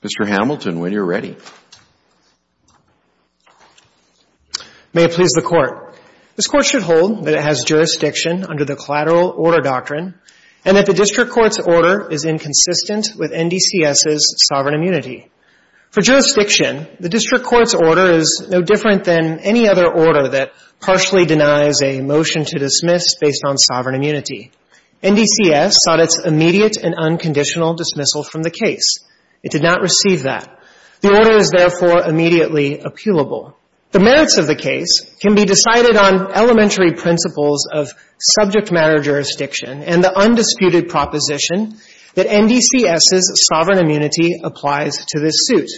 Mr. Hamilton, when you're ready. May it please the Court. This Court should hold that it has jurisdiction under the Collateral Order Doctrine and that the District Court's order is inconsistent with NDCS's sovereign immunity. The District Court's order is no different than any other order that partially denies a motion to dismiss based on sovereign immunity. NDCS sought its immediate and unconditional dismissal from the case. It did not receive that. The order is therefore immediately appealable. The merits of the case can be decided on elementary principles of subject matter jurisdiction and the undisputed proposition that NDCS's sovereign immunity applies to this suit.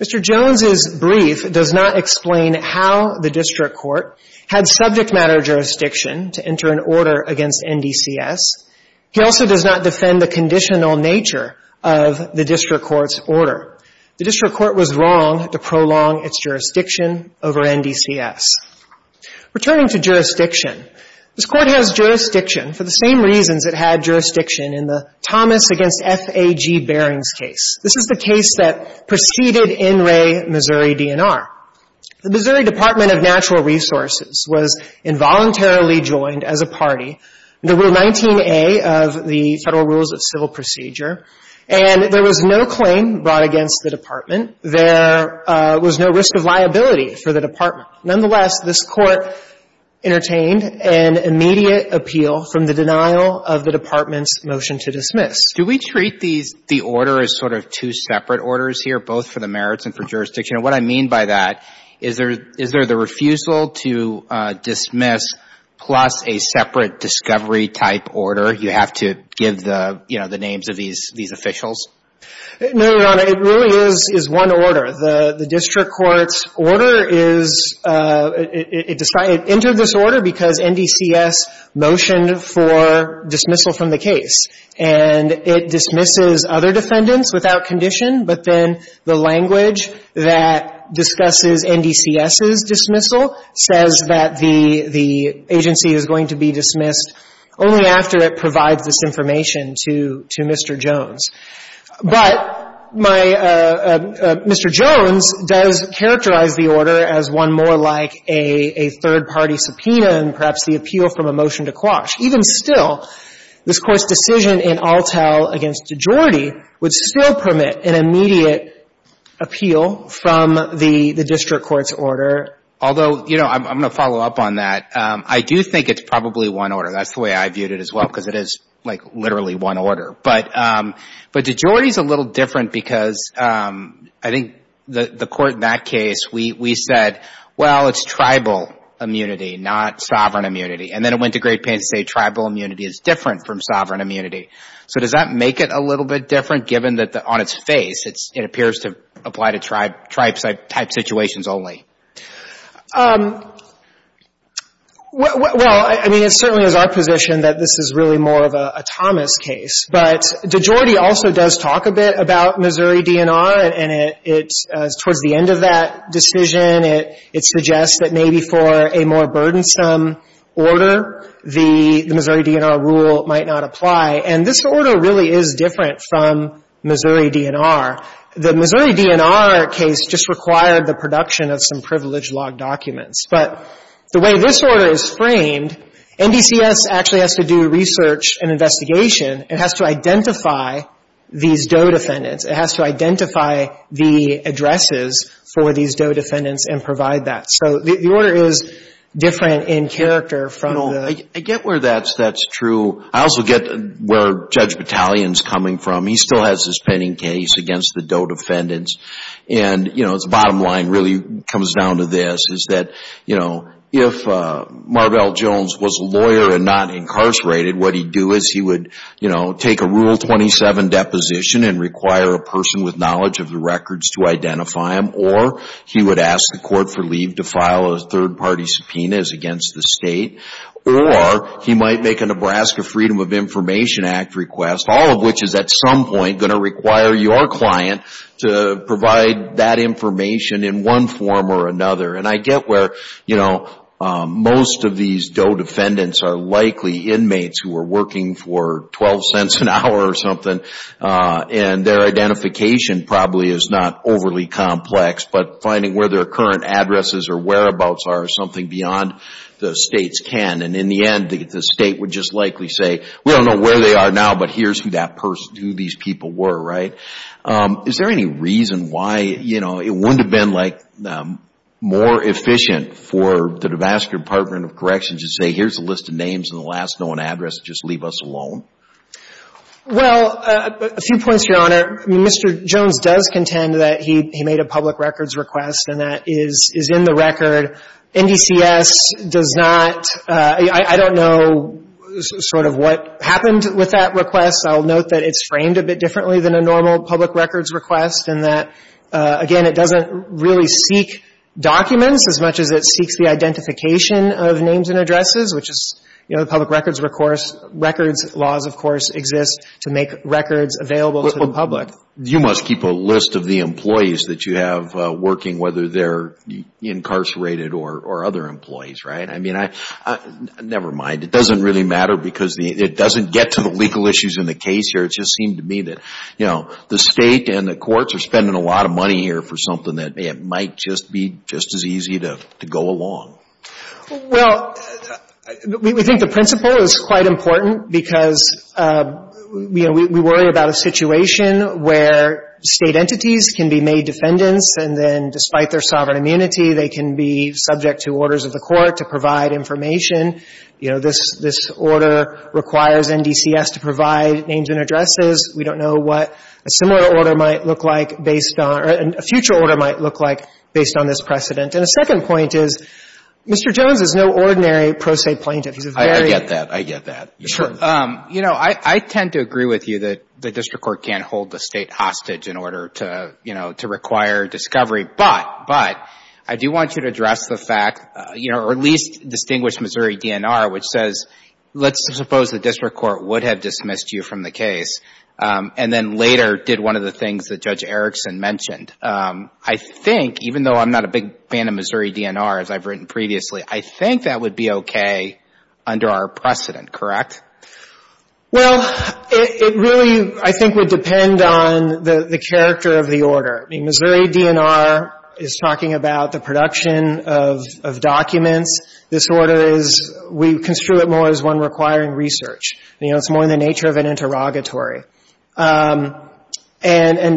Mr. Jones's brief does not explain how the District Court had subject matter jurisdiction to enter an order against NDCS. He also does not defend the conditional nature of the District Court's order. The District Court was wrong to prolong its jurisdiction over NDCS. Returning to jurisdiction, this Court has jurisdiction for the same reasons it had jurisdiction in the Thomas v. F. A. G. Barings case. This is the case that preceded NRA Missouri DNR. The Missouri Department of Natural Resources was involuntarily joined as a party under Rule 19a of the Federal Rules of Civil Procedure, and there was no claim brought against the department. There was no risk of liability for the department. Nonetheless, this Court entertained an immediate appeal from the denial of the department's motion to dismiss. Do we treat the order as sort of two separate orders here, both for the merits and for jurisdiction? And what I mean by that, is there the refusal to dismiss plus a separate discovery type order? You have to give the names of these officials? No, Your Honor. It really is one order. The District Court's order is – it entered this order because NDCS motioned for dismissal from the case. And it dismisses other defendants without condition, but then the language that discusses NDCS's dismissal says that the agency is going to be dismissed only after it provides this information to Mr. Jones. But my – Mr. Jones does characterize the order as one more like a third-party subpoena and perhaps the appeal from a motion to quash. Even still, this Court's decision in Altell against DeJordi would still permit an immediate appeal from the District Court's order. Although, you know, I'm going to follow up on that. I do think it's probably one order. That's the way I viewed it as well, because it is like literally one order. But DeJordi is a little different because I think the Court in that case, we said, well, it's tribal immunity, not sovereign immunity. And then it went to Great Panty State, tribal immunity is different from sovereign immunity. So does that make it a little bit different, given that on its face, it appears to apply to tribe-type situations only? Well, I mean, it certainly is our position that this is really more of a Thomas case. But DeJordi also does talk a bit about Missouri DNR, and it's – towards the end of that decision, it suggests that maybe for a more burdensome order, the Missouri DNR rule might not apply. And this order really is different from Missouri DNR. The Missouri DNR case just required the production of some privileged log documents. But the way this order is framed, NBCS actually has to do research and investigation and has to identify these DOE defendants. It has to identify the addresses for these DOE defendants and provide that. So the order is different in character from the – No. I get where that's true. I also get where Judge Battalion's coming from. He still has his pending case against the DOE defendants. And, you know, the bottom line really comes down to this, is that, you know, if Marvell Jones was a lawyer and not incarcerated, what he'd do is he would, you know, take a Rule 27 deposition and require a person with knowledge of the records to identify him. Or he would ask the court for leave to file a third-party subpoena against the state. Or he might make a Nebraska Freedom of Information Act request, all of which is at some point going to require your client to provide that information in one form or another. And I get where, you know, most of these DOE defendants are likely inmates who are working for 12 cents an hour or something, and their identification probably is not overly complex. But finding where their current addresses or whereabouts are is something beyond the state's can. And in the end, the state would just likely say, we don't know where they are now, but here's who these people were, right? Is there any reason why, you know, it wouldn't have been, like, more efficient for the Nebraska Department of Corrections to say, here's a list of names and the last known address, just leave us alone? Well, a few points, Your Honor. Mr. Jones does contend that he made a public records request, and that is in the record. NDCS does not – I don't know sort of what happened with that request. I'll note that it's framed a bit differently than a normal public records request and that, again, it doesn't really seek documents as much as it seeks the identification of names and addresses, which is, you know, the public records records laws, of course, exist to make records available to the public. You must keep a list of the employees that you have working, whether they're incarcerated or other employees, right? I mean, never mind. It doesn't really matter because it doesn't get to the legal issues in the case here. It just seemed to me that, you know, the state and the courts are spending a lot of money here for something that might just be just as easy to go along. Well, we think the principle is quite important because, you know, we worry about a situation where state entities can be made defendants and then, despite their sovereign immunity, they can be subject to orders of the court to provide information. You know, this order requires NDCS to provide names and addresses. We don't know what a similar order might look like based on or a future order might look like based on this precedent. And a second point is, Mr. Jones is no ordinary pro se plaintiff. He's a very — I get that. I get that. Sure. You know, I tend to agree with you that the district court can't hold the State hostage in order to, you know, to require discovery. But, but, I do want you to address the fact, you know, or at least distinguish Missouri DNR, which says, let's suppose the district court would have dismissed you from the case and then later did one of the things that Judge Erickson mentioned. I think, even though I'm not a big fan of Missouri DNR, as I've written previously, I think that would be okay under our precedent, correct? Well, it really, I think, would depend on the character of the order. I mean, Missouri DNR is talking about the production of documents. This order is — we construe it more as one requiring research. You know, it's more in the nature of an interrogatory. And,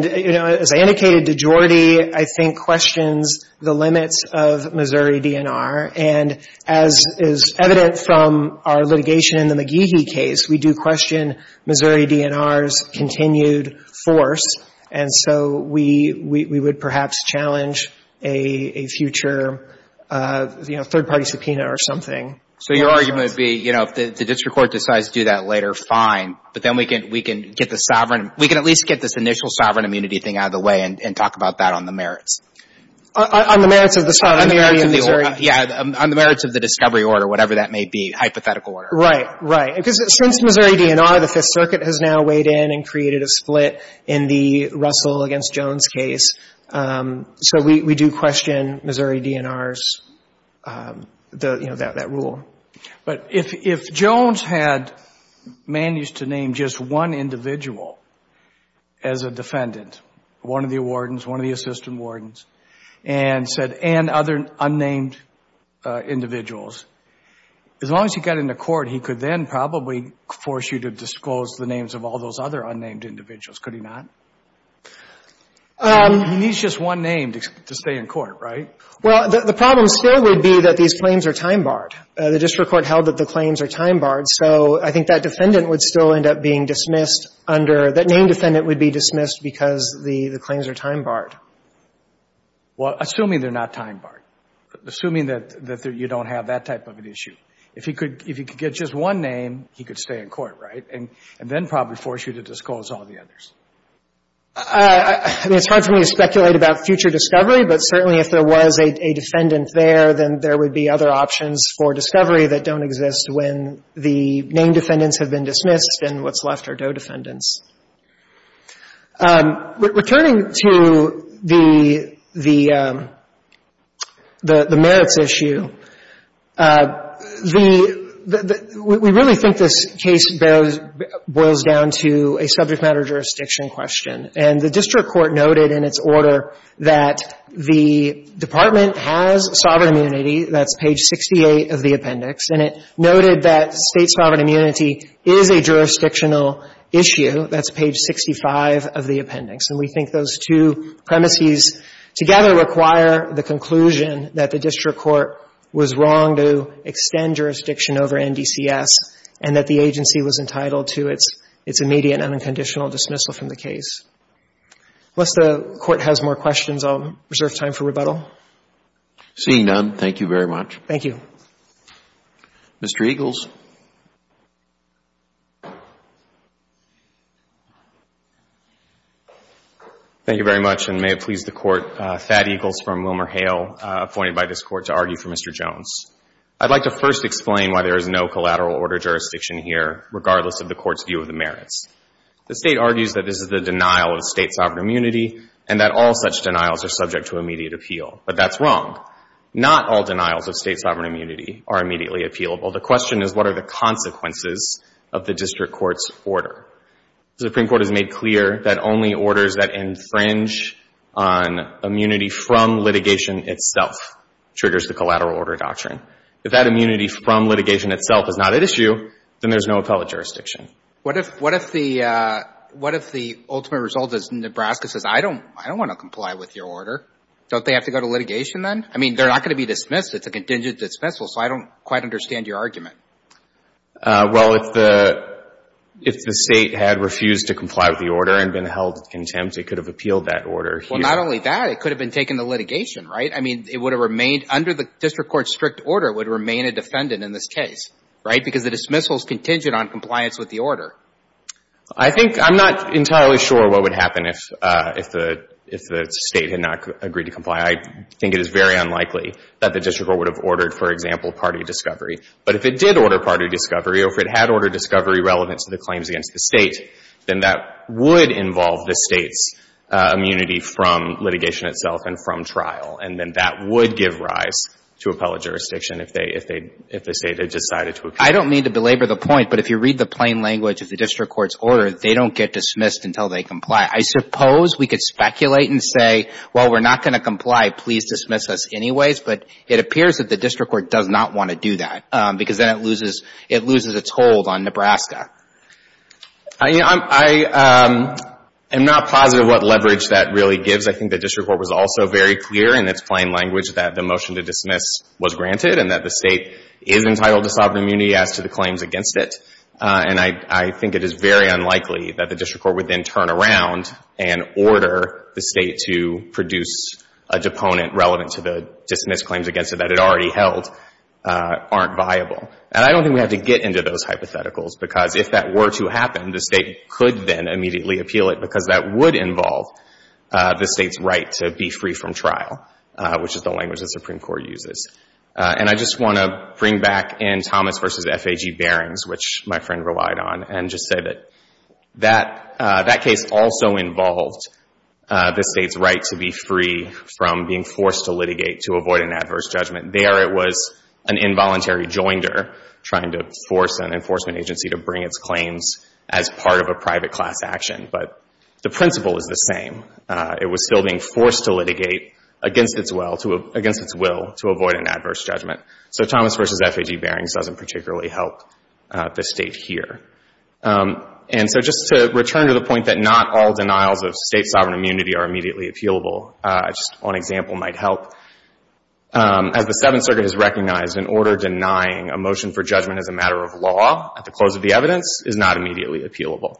you know, as I indicated to Jordy, I think questions the limits of Missouri DNR. And as is evident from our litigation in the McGehee case, we do question Missouri DNR's continued force. And so we would perhaps challenge a future, you know, third-party subpoena or something. So your argument would be, you know, if the district court decides to do that later, fine. But then we can get the sovereign — we can at least get this initial sovereign immunity thing out of the way and talk about that on the merits. On the merits of the sovereign immunity in Missouri. Yeah. On the merits of the discovery order, whatever that may be, hypothetical order. Right. Right. Because since Missouri DNR, the Fifth Circuit has now weighed in and created a split in the Russell against Jones case. So we do question Missouri DNR's, you know, that rule. But if Jones had managed to name just one individual as a defendant, one of the wardens, one of the assistant wardens, and said, and other unnamed individuals, as long as he got into court, he could then probably force you to disclose the names of all those other unnamed individuals. Could he not? He needs just one name to stay in court, right? Well, the problem still would be that these claims are time-barred. The district court held that the claims are time-barred. So I think that defendant would still end up being dismissed under — that named defendant would be dismissed because the claims are time-barred. Well, assuming they're not time-barred. Assuming that you don't have that type of an issue. If he could get just one name, he could stay in court, right? And then probably force you to disclose all the others. I mean, it's hard for me to speculate about future discovery, but certainly if there was a defendant there, then there would be other options for discovery that don't exist when the named defendants have been dismissed and what's left are do-defendants. Returning to the merits issue, the — we really think this case boils down to a subject matter jurisdiction question. And the district court noted in its order that the department has sovereign immunity. That's page 68 of the appendix. And it noted that State sovereign immunity is a jurisdictional issue. That's page 65 of the appendix. And we think those two premises together require the conclusion that the district court was wrong to extend jurisdiction over NDCS and that the agency was entitled to its immediate and unconditional dismissal from the case. Unless the Court has more questions, I'll reserve time for rebuttal. Seeing none, thank you very much. Thank you. Mr. Eagles. Thank you very much, and may it please the Court. Thad Eagles from WilmerHale, appointed by this Court to argue for Mr. Jones. I'd like to first explain why there is no collateral order jurisdiction here, regardless of the Court's view of the merits. The State argues that this is the denial of State sovereign immunity, and that all such denials are subject to immediate appeal. But that's wrong. Not all denials of State sovereign immunity are immediately appealable. The question is, what are the consequences of the district court's order? The Supreme Court has made clear that only orders that infringe on immunity from litigation itself triggers the collateral order doctrine. If that immunity from litigation itself is not at issue, then there's no appellate jurisdiction. What if the ultimate result is Nebraska says, I don't want to comply with your order? Don't they have to go to litigation then? I mean, they're not going to be dismissed. It's a contingent dismissal, so I don't quite understand your argument. Well, if the State had refused to comply with the order and been held in contempt, it could have appealed that order here. Well, not only that, it could have been taken to litigation, right? I mean, it would have remained under the district court's strict order would remain a defendant in this case, right, because the dismissal is contingent on compliance with the order. I think I'm not entirely sure what would happen if the State had not agreed to comply. I think it is very unlikely that the district court would have ordered, for example, party discovery. But if it did order party discovery or if it had ordered discovery relevant to the claims against the State, then that would involve the State's immunity from litigation itself and from trial. And then that would give rise to appellate jurisdiction if the State had decided to appeal. I don't mean to belabor the point, but if you read the plain language of the district court's order, they don't get dismissed until they comply. I suppose we could speculate and say, well, we're not going to comply. Please dismiss us anyways. But it appears that the district court does not want to do that because then it loses its hold on Nebraska. I am not positive what leverage that really gives. I think the district court was also very clear in its plain language that the motion to dismiss was granted and that the State is entitled to sovereign immunity as to the claims against it. And I think it is very unlikely that the district court would then turn around and order the State to produce a deponent relevant to the dismissed claims against it that it already held aren't viable. And I don't think we have to get into those hypotheticals because if that were to happen, the State could then immediately appeal it because that would involve the State's right to be free from trial, which is the language the Supreme Court uses. And I just want to bring back in Thomas v. F.A.G. Barings, which my friend relied on, and just say that that case also involved the State's right to be free from being forced to litigate to avoid an adverse judgment. There it was an involuntary joinder trying to force an enforcement agency to bring its claims as part of a private class action. But the principle is the same. It was still being forced to litigate against its will to avoid an adverse judgment. So Thomas v. F.A.G. Barings doesn't particularly help the State here. And so just to return to the point that not all denials of State sovereign immunity are immediately appealable, just one example might help. As the Seventh Circuit has recognized, in order denying a motion for judgment as a matter of law at the close of the evidence is not immediately appealable.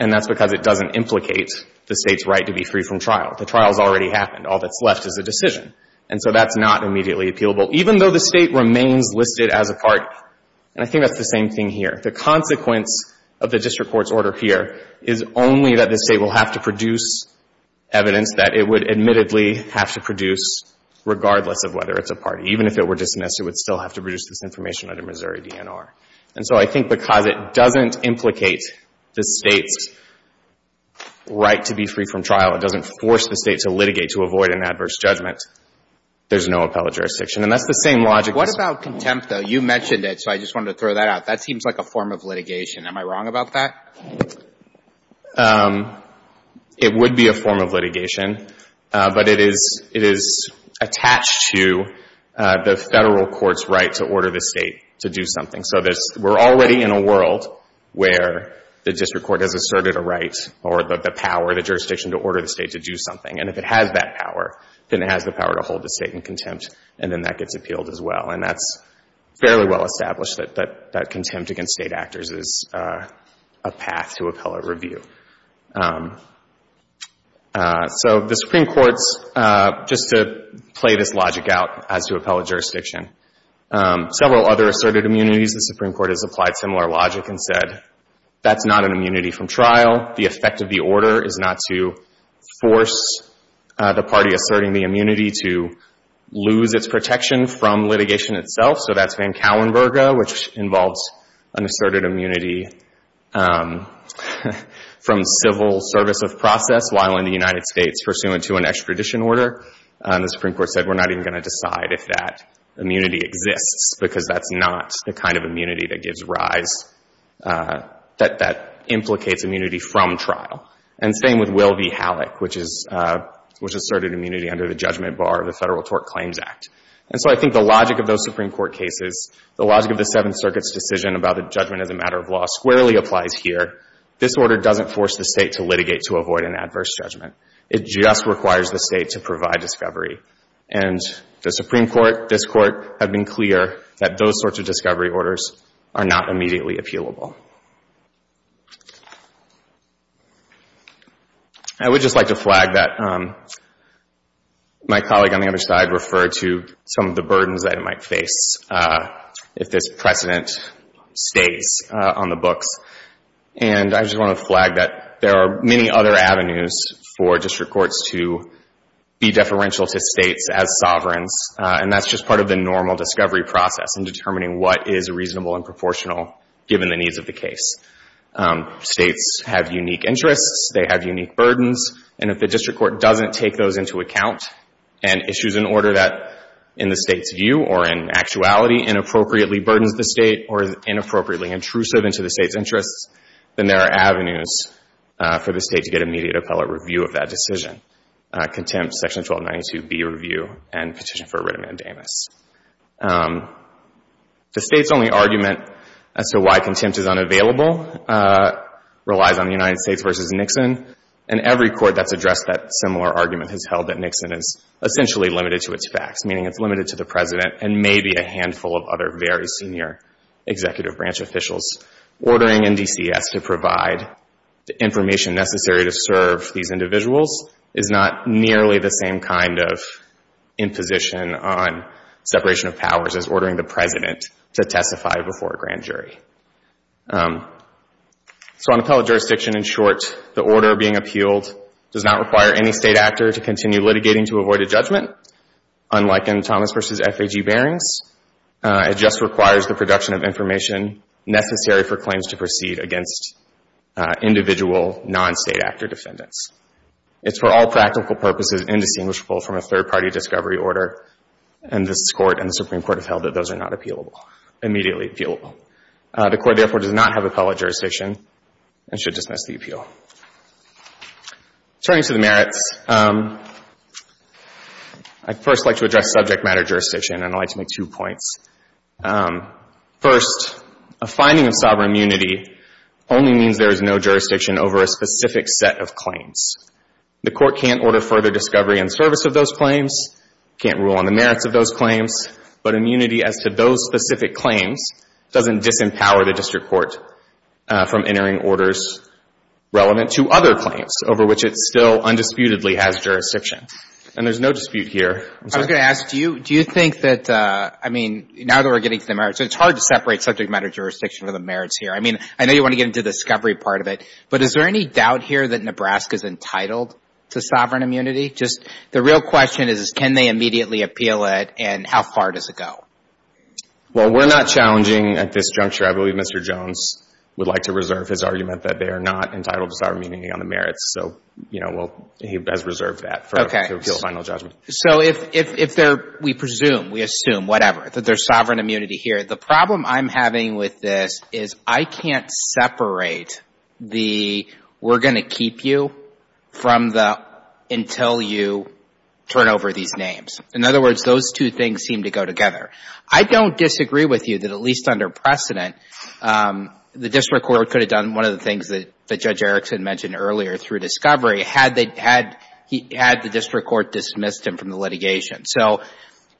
And that's because it doesn't implicate the State's right to be free from trial. The trial has already happened. All that's left is a decision. And so that's not immediately appealable, even though the State remains listed as a party. And I think that's the same thing here. The consequence of the district court's order here is only that the State will have to produce evidence that it would admittedly have to produce regardless of whether it's a party. Even if it were dismissed, it would still have to produce this information under Missouri DNR. And so I think because it doesn't implicate the State's right to be free from trial, it doesn't force the State to litigate to avoid an adverse judgment, there's no appellate jurisdiction. And that's the same logic. What about contempt, though? You mentioned it, so I just wanted to throw that out. That seems like a form of litigation. Am I wrong about that? It would be a form of litigation. But it is attached to the Federal court's right to order the State to do something. So we're already in a world where the district court has asserted a right or the power, the jurisdiction, to order the State to do something. And if it has that power, then it has the power to hold the State in contempt, and then that gets appealed as well. And that's fairly well established, that contempt against State actors is a path to appellate review. So the Supreme Court's, just to play this logic out as to appellate jurisdiction, several other asserted immunities, the Supreme Court has applied similar logic and said that's not an immunity from trial. The effect of the order is not to force the party asserting the immunity to lose its protection from litigation itself. So that's Van Kauenberga, which involves an asserted immunity from civil service of process while in the United States pursuant to an extradition order. The Supreme Court said we're not even going to decide if that immunity exists because that's not the kind of immunity that gives rise, that implicates immunity from trial. And same with Will v. Halleck, which is, which asserted immunity under the judgment bar of the Federal Tort Claims Act. And so I think the logic of those Supreme Court cases, the logic of the Seventh Circuit's decision about the judgment as a matter of law, squarely applies here. This order doesn't force the State to litigate to avoid an adverse judgment. It just requires the State to provide discovery. And the Supreme Court, this Court, have been clear that those sorts of discovery orders are not immediately appealable. I would just like to flag that my colleague on the other side referred to some of the burdens that it might face if there's precedent States on the books. And I just want to flag that there are many other avenues for district courts to be deferential to States as sovereigns, and that's just part of the normal discovery process in determining what is reasonable and proportional given the needs of the case. States have unique interests. They have unique burdens. And if the district court doesn't take those into account and issues an order that, in the State's view or in actuality, inappropriately burdens the State or is inappropriately intrusive into the State's interests, then there are avenues for the State to get immediate appellate review of that decision, contempt, Section 1292B review, and petition for writ amendamus. The State's only argument as to why contempt is unavailable relies on the United States v. Nixon. And every court that's addressed that similar argument has held that Nixon is essentially limited to its facts, meaning it's limited to the President and maybe a handful of other very senior executive branch officials ordering NDCS to provide the information necessary to serve these individuals is not nearly the same kind of imposition on separation of powers as ordering the President to testify before a grand jury. So on appellate jurisdiction, in short, the order being appealed does not require any State actor to continue litigating to avoid a judgment, unlike in Thomas v. FAG Barings. It just requires the production of information necessary for claims to proceed against individual non-State actor defendants. It's for all practical purposes indistinguishable from a third-party discovery order, and this Court and the Supreme Court have held that those are not appealable, immediately appealable. The Court, therefore, does not have appellate jurisdiction and should dismiss the appeal. Turning to the merits, I'd first like to address subject matter jurisdiction, and I'd like to make two points. First, a finding of sovereign immunity only means there is no jurisdiction over a specific set of claims. The Court can't order further discovery in service of those claims, can't rule on the merits of those claims, but immunity as to those specific claims doesn't disempower the District Court from entering orders relevant to other claims over which it still undisputedly has jurisdiction. And there's no dispute here. I was going to ask, do you think that, I mean, now that we're getting to the merits, it's hard to separate subject matter jurisdiction from the merits here. I mean, I know you want to get into the discovery part of it, but is there any doubt here that Nebraska's entitled to sovereign immunity? Just the real question is, can they immediately appeal it, and how far does it go? Well, we're not challenging at this juncture. I believe Mr. Jones would like to reserve his argument that they are not entitled to sovereign immunity on the merits, so, you know, he has reserved that for a final judgment. Okay. So if they're, we presume, we assume, whatever, that there's sovereign immunity here, the problem I'm having with this is I can't separate the we're going to keep you from the until you turn over these names. In other words, those two things seem to go together. I don't disagree with you that at least under precedent, the District Court could have done one of the things that Judge Erickson mentioned earlier through discovery had the District Court dismissed him from the litigation. So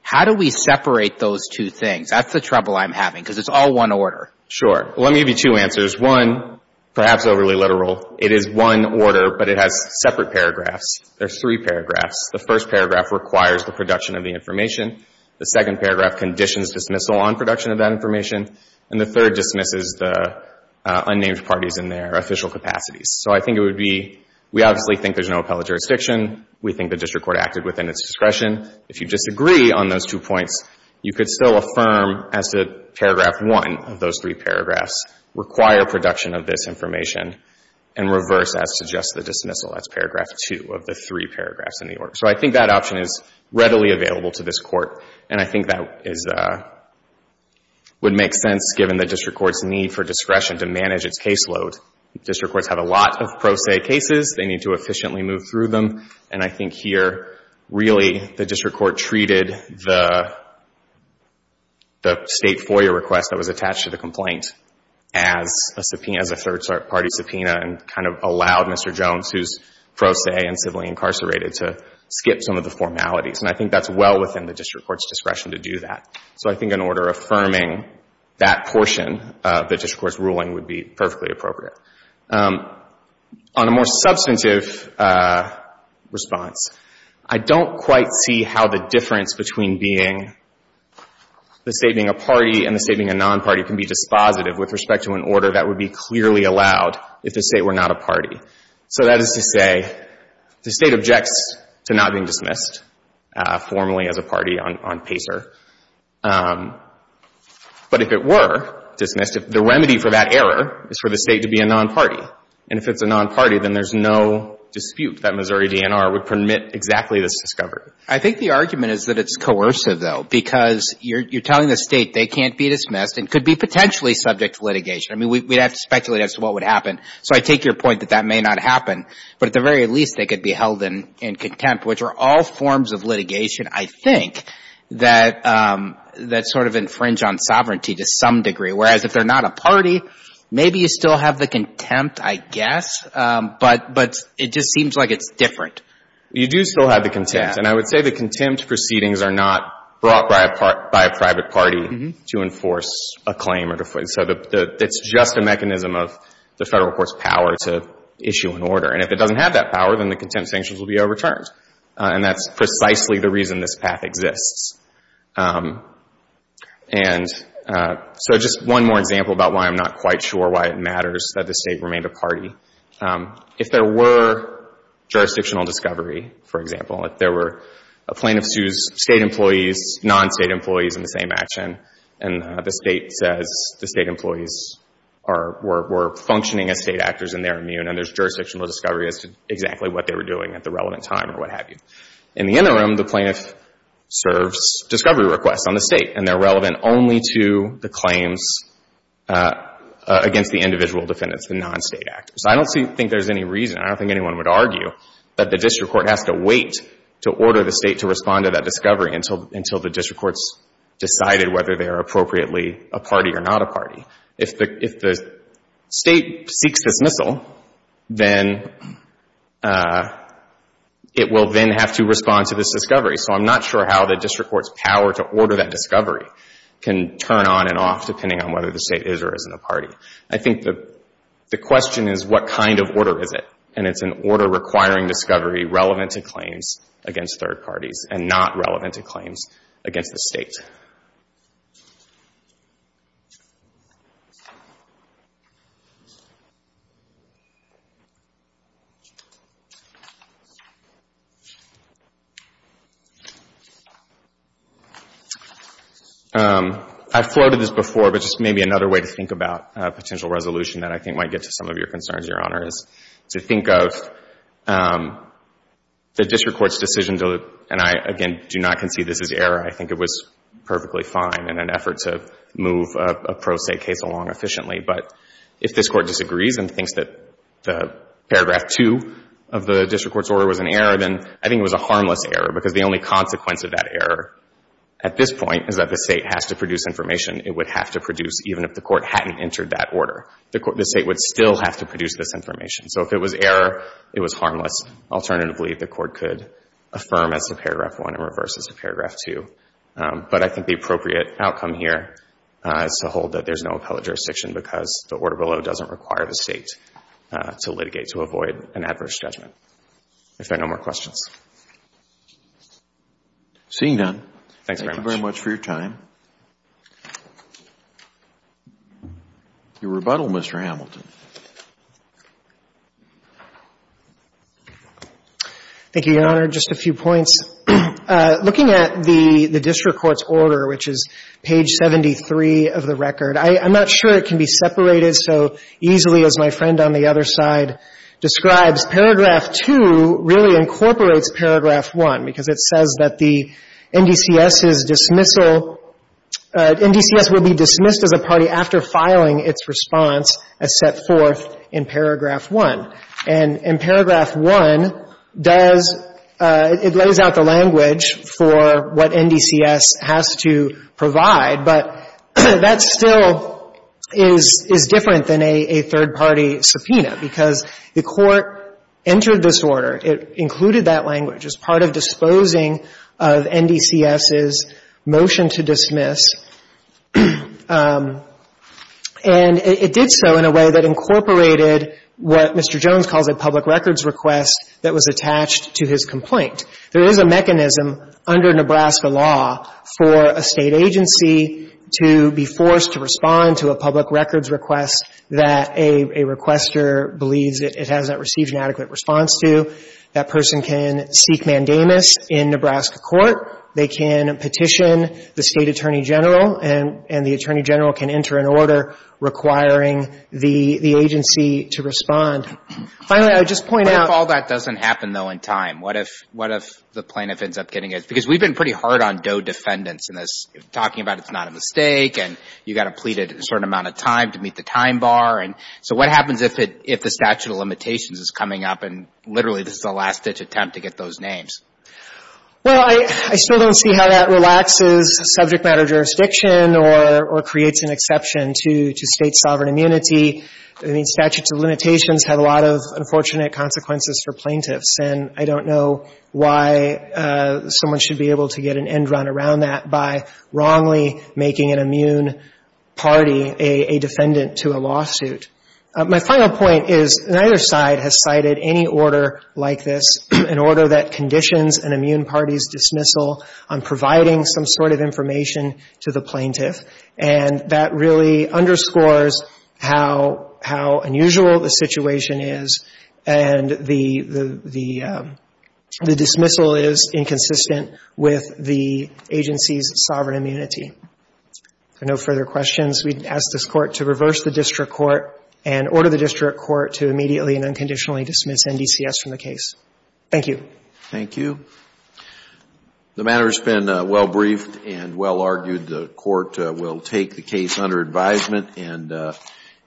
how do we separate those two things? That's the trouble I'm having because it's all one order. Sure. Well, let me give you two answers. One, perhaps overly literal, it is one order, but it has separate paragraphs. There are three paragraphs. The first paragraph requires the production of the information. The second paragraph conditions dismissal on production of that information. And the third dismisses the unnamed parties in their official capacities. So I think it would be, we obviously think there's no appellate jurisdiction. We think the District Court acted within its discretion. If you disagree on those two points, you could still affirm as to paragraph one of those three paragraphs require production of this information and reverse that suggests the dismissal. That's paragraph two of the three paragraphs in the order. So I think that option is readily available to this Court, and I think that would make sense given the District Court's need for discretion to manage its caseload. District Courts have a lot of pro se cases. They need to efficiently move through them, and I think here really the District Court treated the State FOIA request that was attached to the complaint as a third-party subpoena and kind of allowed Mr. Jones, who's pro se and civilly incarcerated, to skip some of the formalities. And I think that's well within the District Court's discretion to do that. So I think an order affirming that portion of the District Court's ruling would be perfectly appropriate. On a more substantive response, I don't quite see how the difference between being the State being a party and the State being a non-party can be dispositive with respect to an order that would be clearly allowed if the State were not a party. So that is to say the State objects to not being dismissed. formally as a party on PACER. But if it were dismissed, the remedy for that error is for the State to be a non-party. And if it's a non-party, then there's no dispute that Missouri DNR would permit exactly this discovery. I think the argument is that it's coercive, though, because you're telling the State they can't be dismissed and could be potentially subject to litigation. I mean, we'd have to speculate as to what would happen. So I take your point that that may not happen. But at the very least, they could be held in contempt, which are all forms of litigation, I think, that sort of infringe on sovereignty to some degree. Whereas if they're not a party, maybe you still have the contempt, I guess. But it just seems like it's different. You do still have the contempt. And I would say the contempt proceedings are not brought by a private party to enforce a claim. So it's just a mechanism of the Federal Court's power to issue an order. And if it doesn't have that power, then the contempt sanctions will be overturned. And that's precisely the reason this path exists. And so just one more example about why I'm not quite sure why it matters that the State remained a party. If there were jurisdictional discovery, for example, if there were plaintiff sues State employees, non-State employees in the same action, and the State says the State employees were functioning as State actors and they're immune and there's jurisdictional discovery as to exactly what they were doing at the relevant time or what have you. In the interim, the plaintiff serves discovery requests on the State, and they're relevant only to the claims against the individual defendants, the non-State actors. I don't think there's any reason, I don't think anyone would argue, that the district court has to wait to order the State to respond to that discovery until the district court's decided whether they are appropriately a party or not a party. If the State seeks dismissal, then it will then have to respond to this discovery. So I'm not sure how the district court's power to order that discovery can turn on and off depending on whether the State is or isn't a party. I think the question is what kind of order is it? And it's an order requiring discovery relevant to claims against third parties and not relevant to claims against the State. I floated this before, but just maybe another way to think about potential resolution that I think might get to some of your concerns, Your Honor, is to think of the district court's decision to, and I, again, do not concede this is error. I think it was perfectly fine in an effort to move a pro-State case along efficiently. But if this Court disagrees and thinks that the paragraph 2 of the district court's order was an error, then I think it was a harmless error, because the only consequence of that error at this point is that the State has to produce information it would have to produce even if the Court hadn't entered that order. The State would still have to produce this information. So if it was error, it was harmless. Alternatively, the Court could affirm as to paragraph 1 and reverse as to paragraph 2. But I think the appropriate outcome here is to hold that there's no appellate jurisdiction because the order below doesn't require the State to litigate to avoid an adverse judgment. If there are no more questions. Seeing none. Thanks very much. Thank you very much for your time. Your rebuttal, Mr. Hamilton. Thank you, Your Honor. Just a few points. Looking at the district court's order, which is page 73 of the record, I'm not sure it can be separated so easily as my friend on the other side describes. Paragraph 2 really incorporates paragraph 1 because it says that the NDCS's dismissal — NDCS will be dismissed as a party after filing its response as set forth in paragraph 1. And in paragraph 1, does — it lays out the language for what NDCS has to provide, but that still is different than a third-party subpoena because the Court entered this order. It included that language as part of disposing of NDCS's motion to dismiss. And it did so in a way that incorporated what Mr. Jones calls a public records request that was attached to his complaint. There is a mechanism under Nebraska law for a State agency to be forced to respond to a public records request that a requester believes it hasn't received an adequate response to. That person can seek mandamus in Nebraska court. They can petition the State attorney general, and the attorney general can enter an order requiring the agency to respond. Finally, I would just point out — But if all that doesn't happen, though, in time, what if the plaintiff ends up getting it? Because we've been pretty hard on Doe defendants in this, talking about it's not a mistake and you've got to plead it a certain amount of time to meet the time bar. And so what happens if the statute of limitations is coming up and literally this is a last-ditch attempt to get those names? Well, I still don't see how that relaxes subject matter jurisdiction or creates an exception to State sovereign immunity. I mean, statutes of limitations have a lot of unfortunate consequences for plaintiffs. And I don't know why someone should be able to get an end run around that by wrongly making an immune party a defendant to a lawsuit. My final point is neither side has cited any order like this, an order that conditions an immune party's dismissal on providing some sort of information to the plaintiff. And that really underscores how unusual the situation is and the dismissal is inconsistent with the agency's sovereign immunity. If there are no further questions, we'd ask this Court to reverse the district court and order the district court to immediately and unconditionally dismiss NDCS from the case. Thank you. Thank you. The matter has been well briefed and well argued. The Court will take the case under advisement and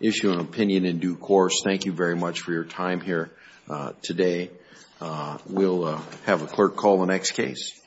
issue an opinion in due course. Thank you very much for your time here today. We'll have a clerk call the next case.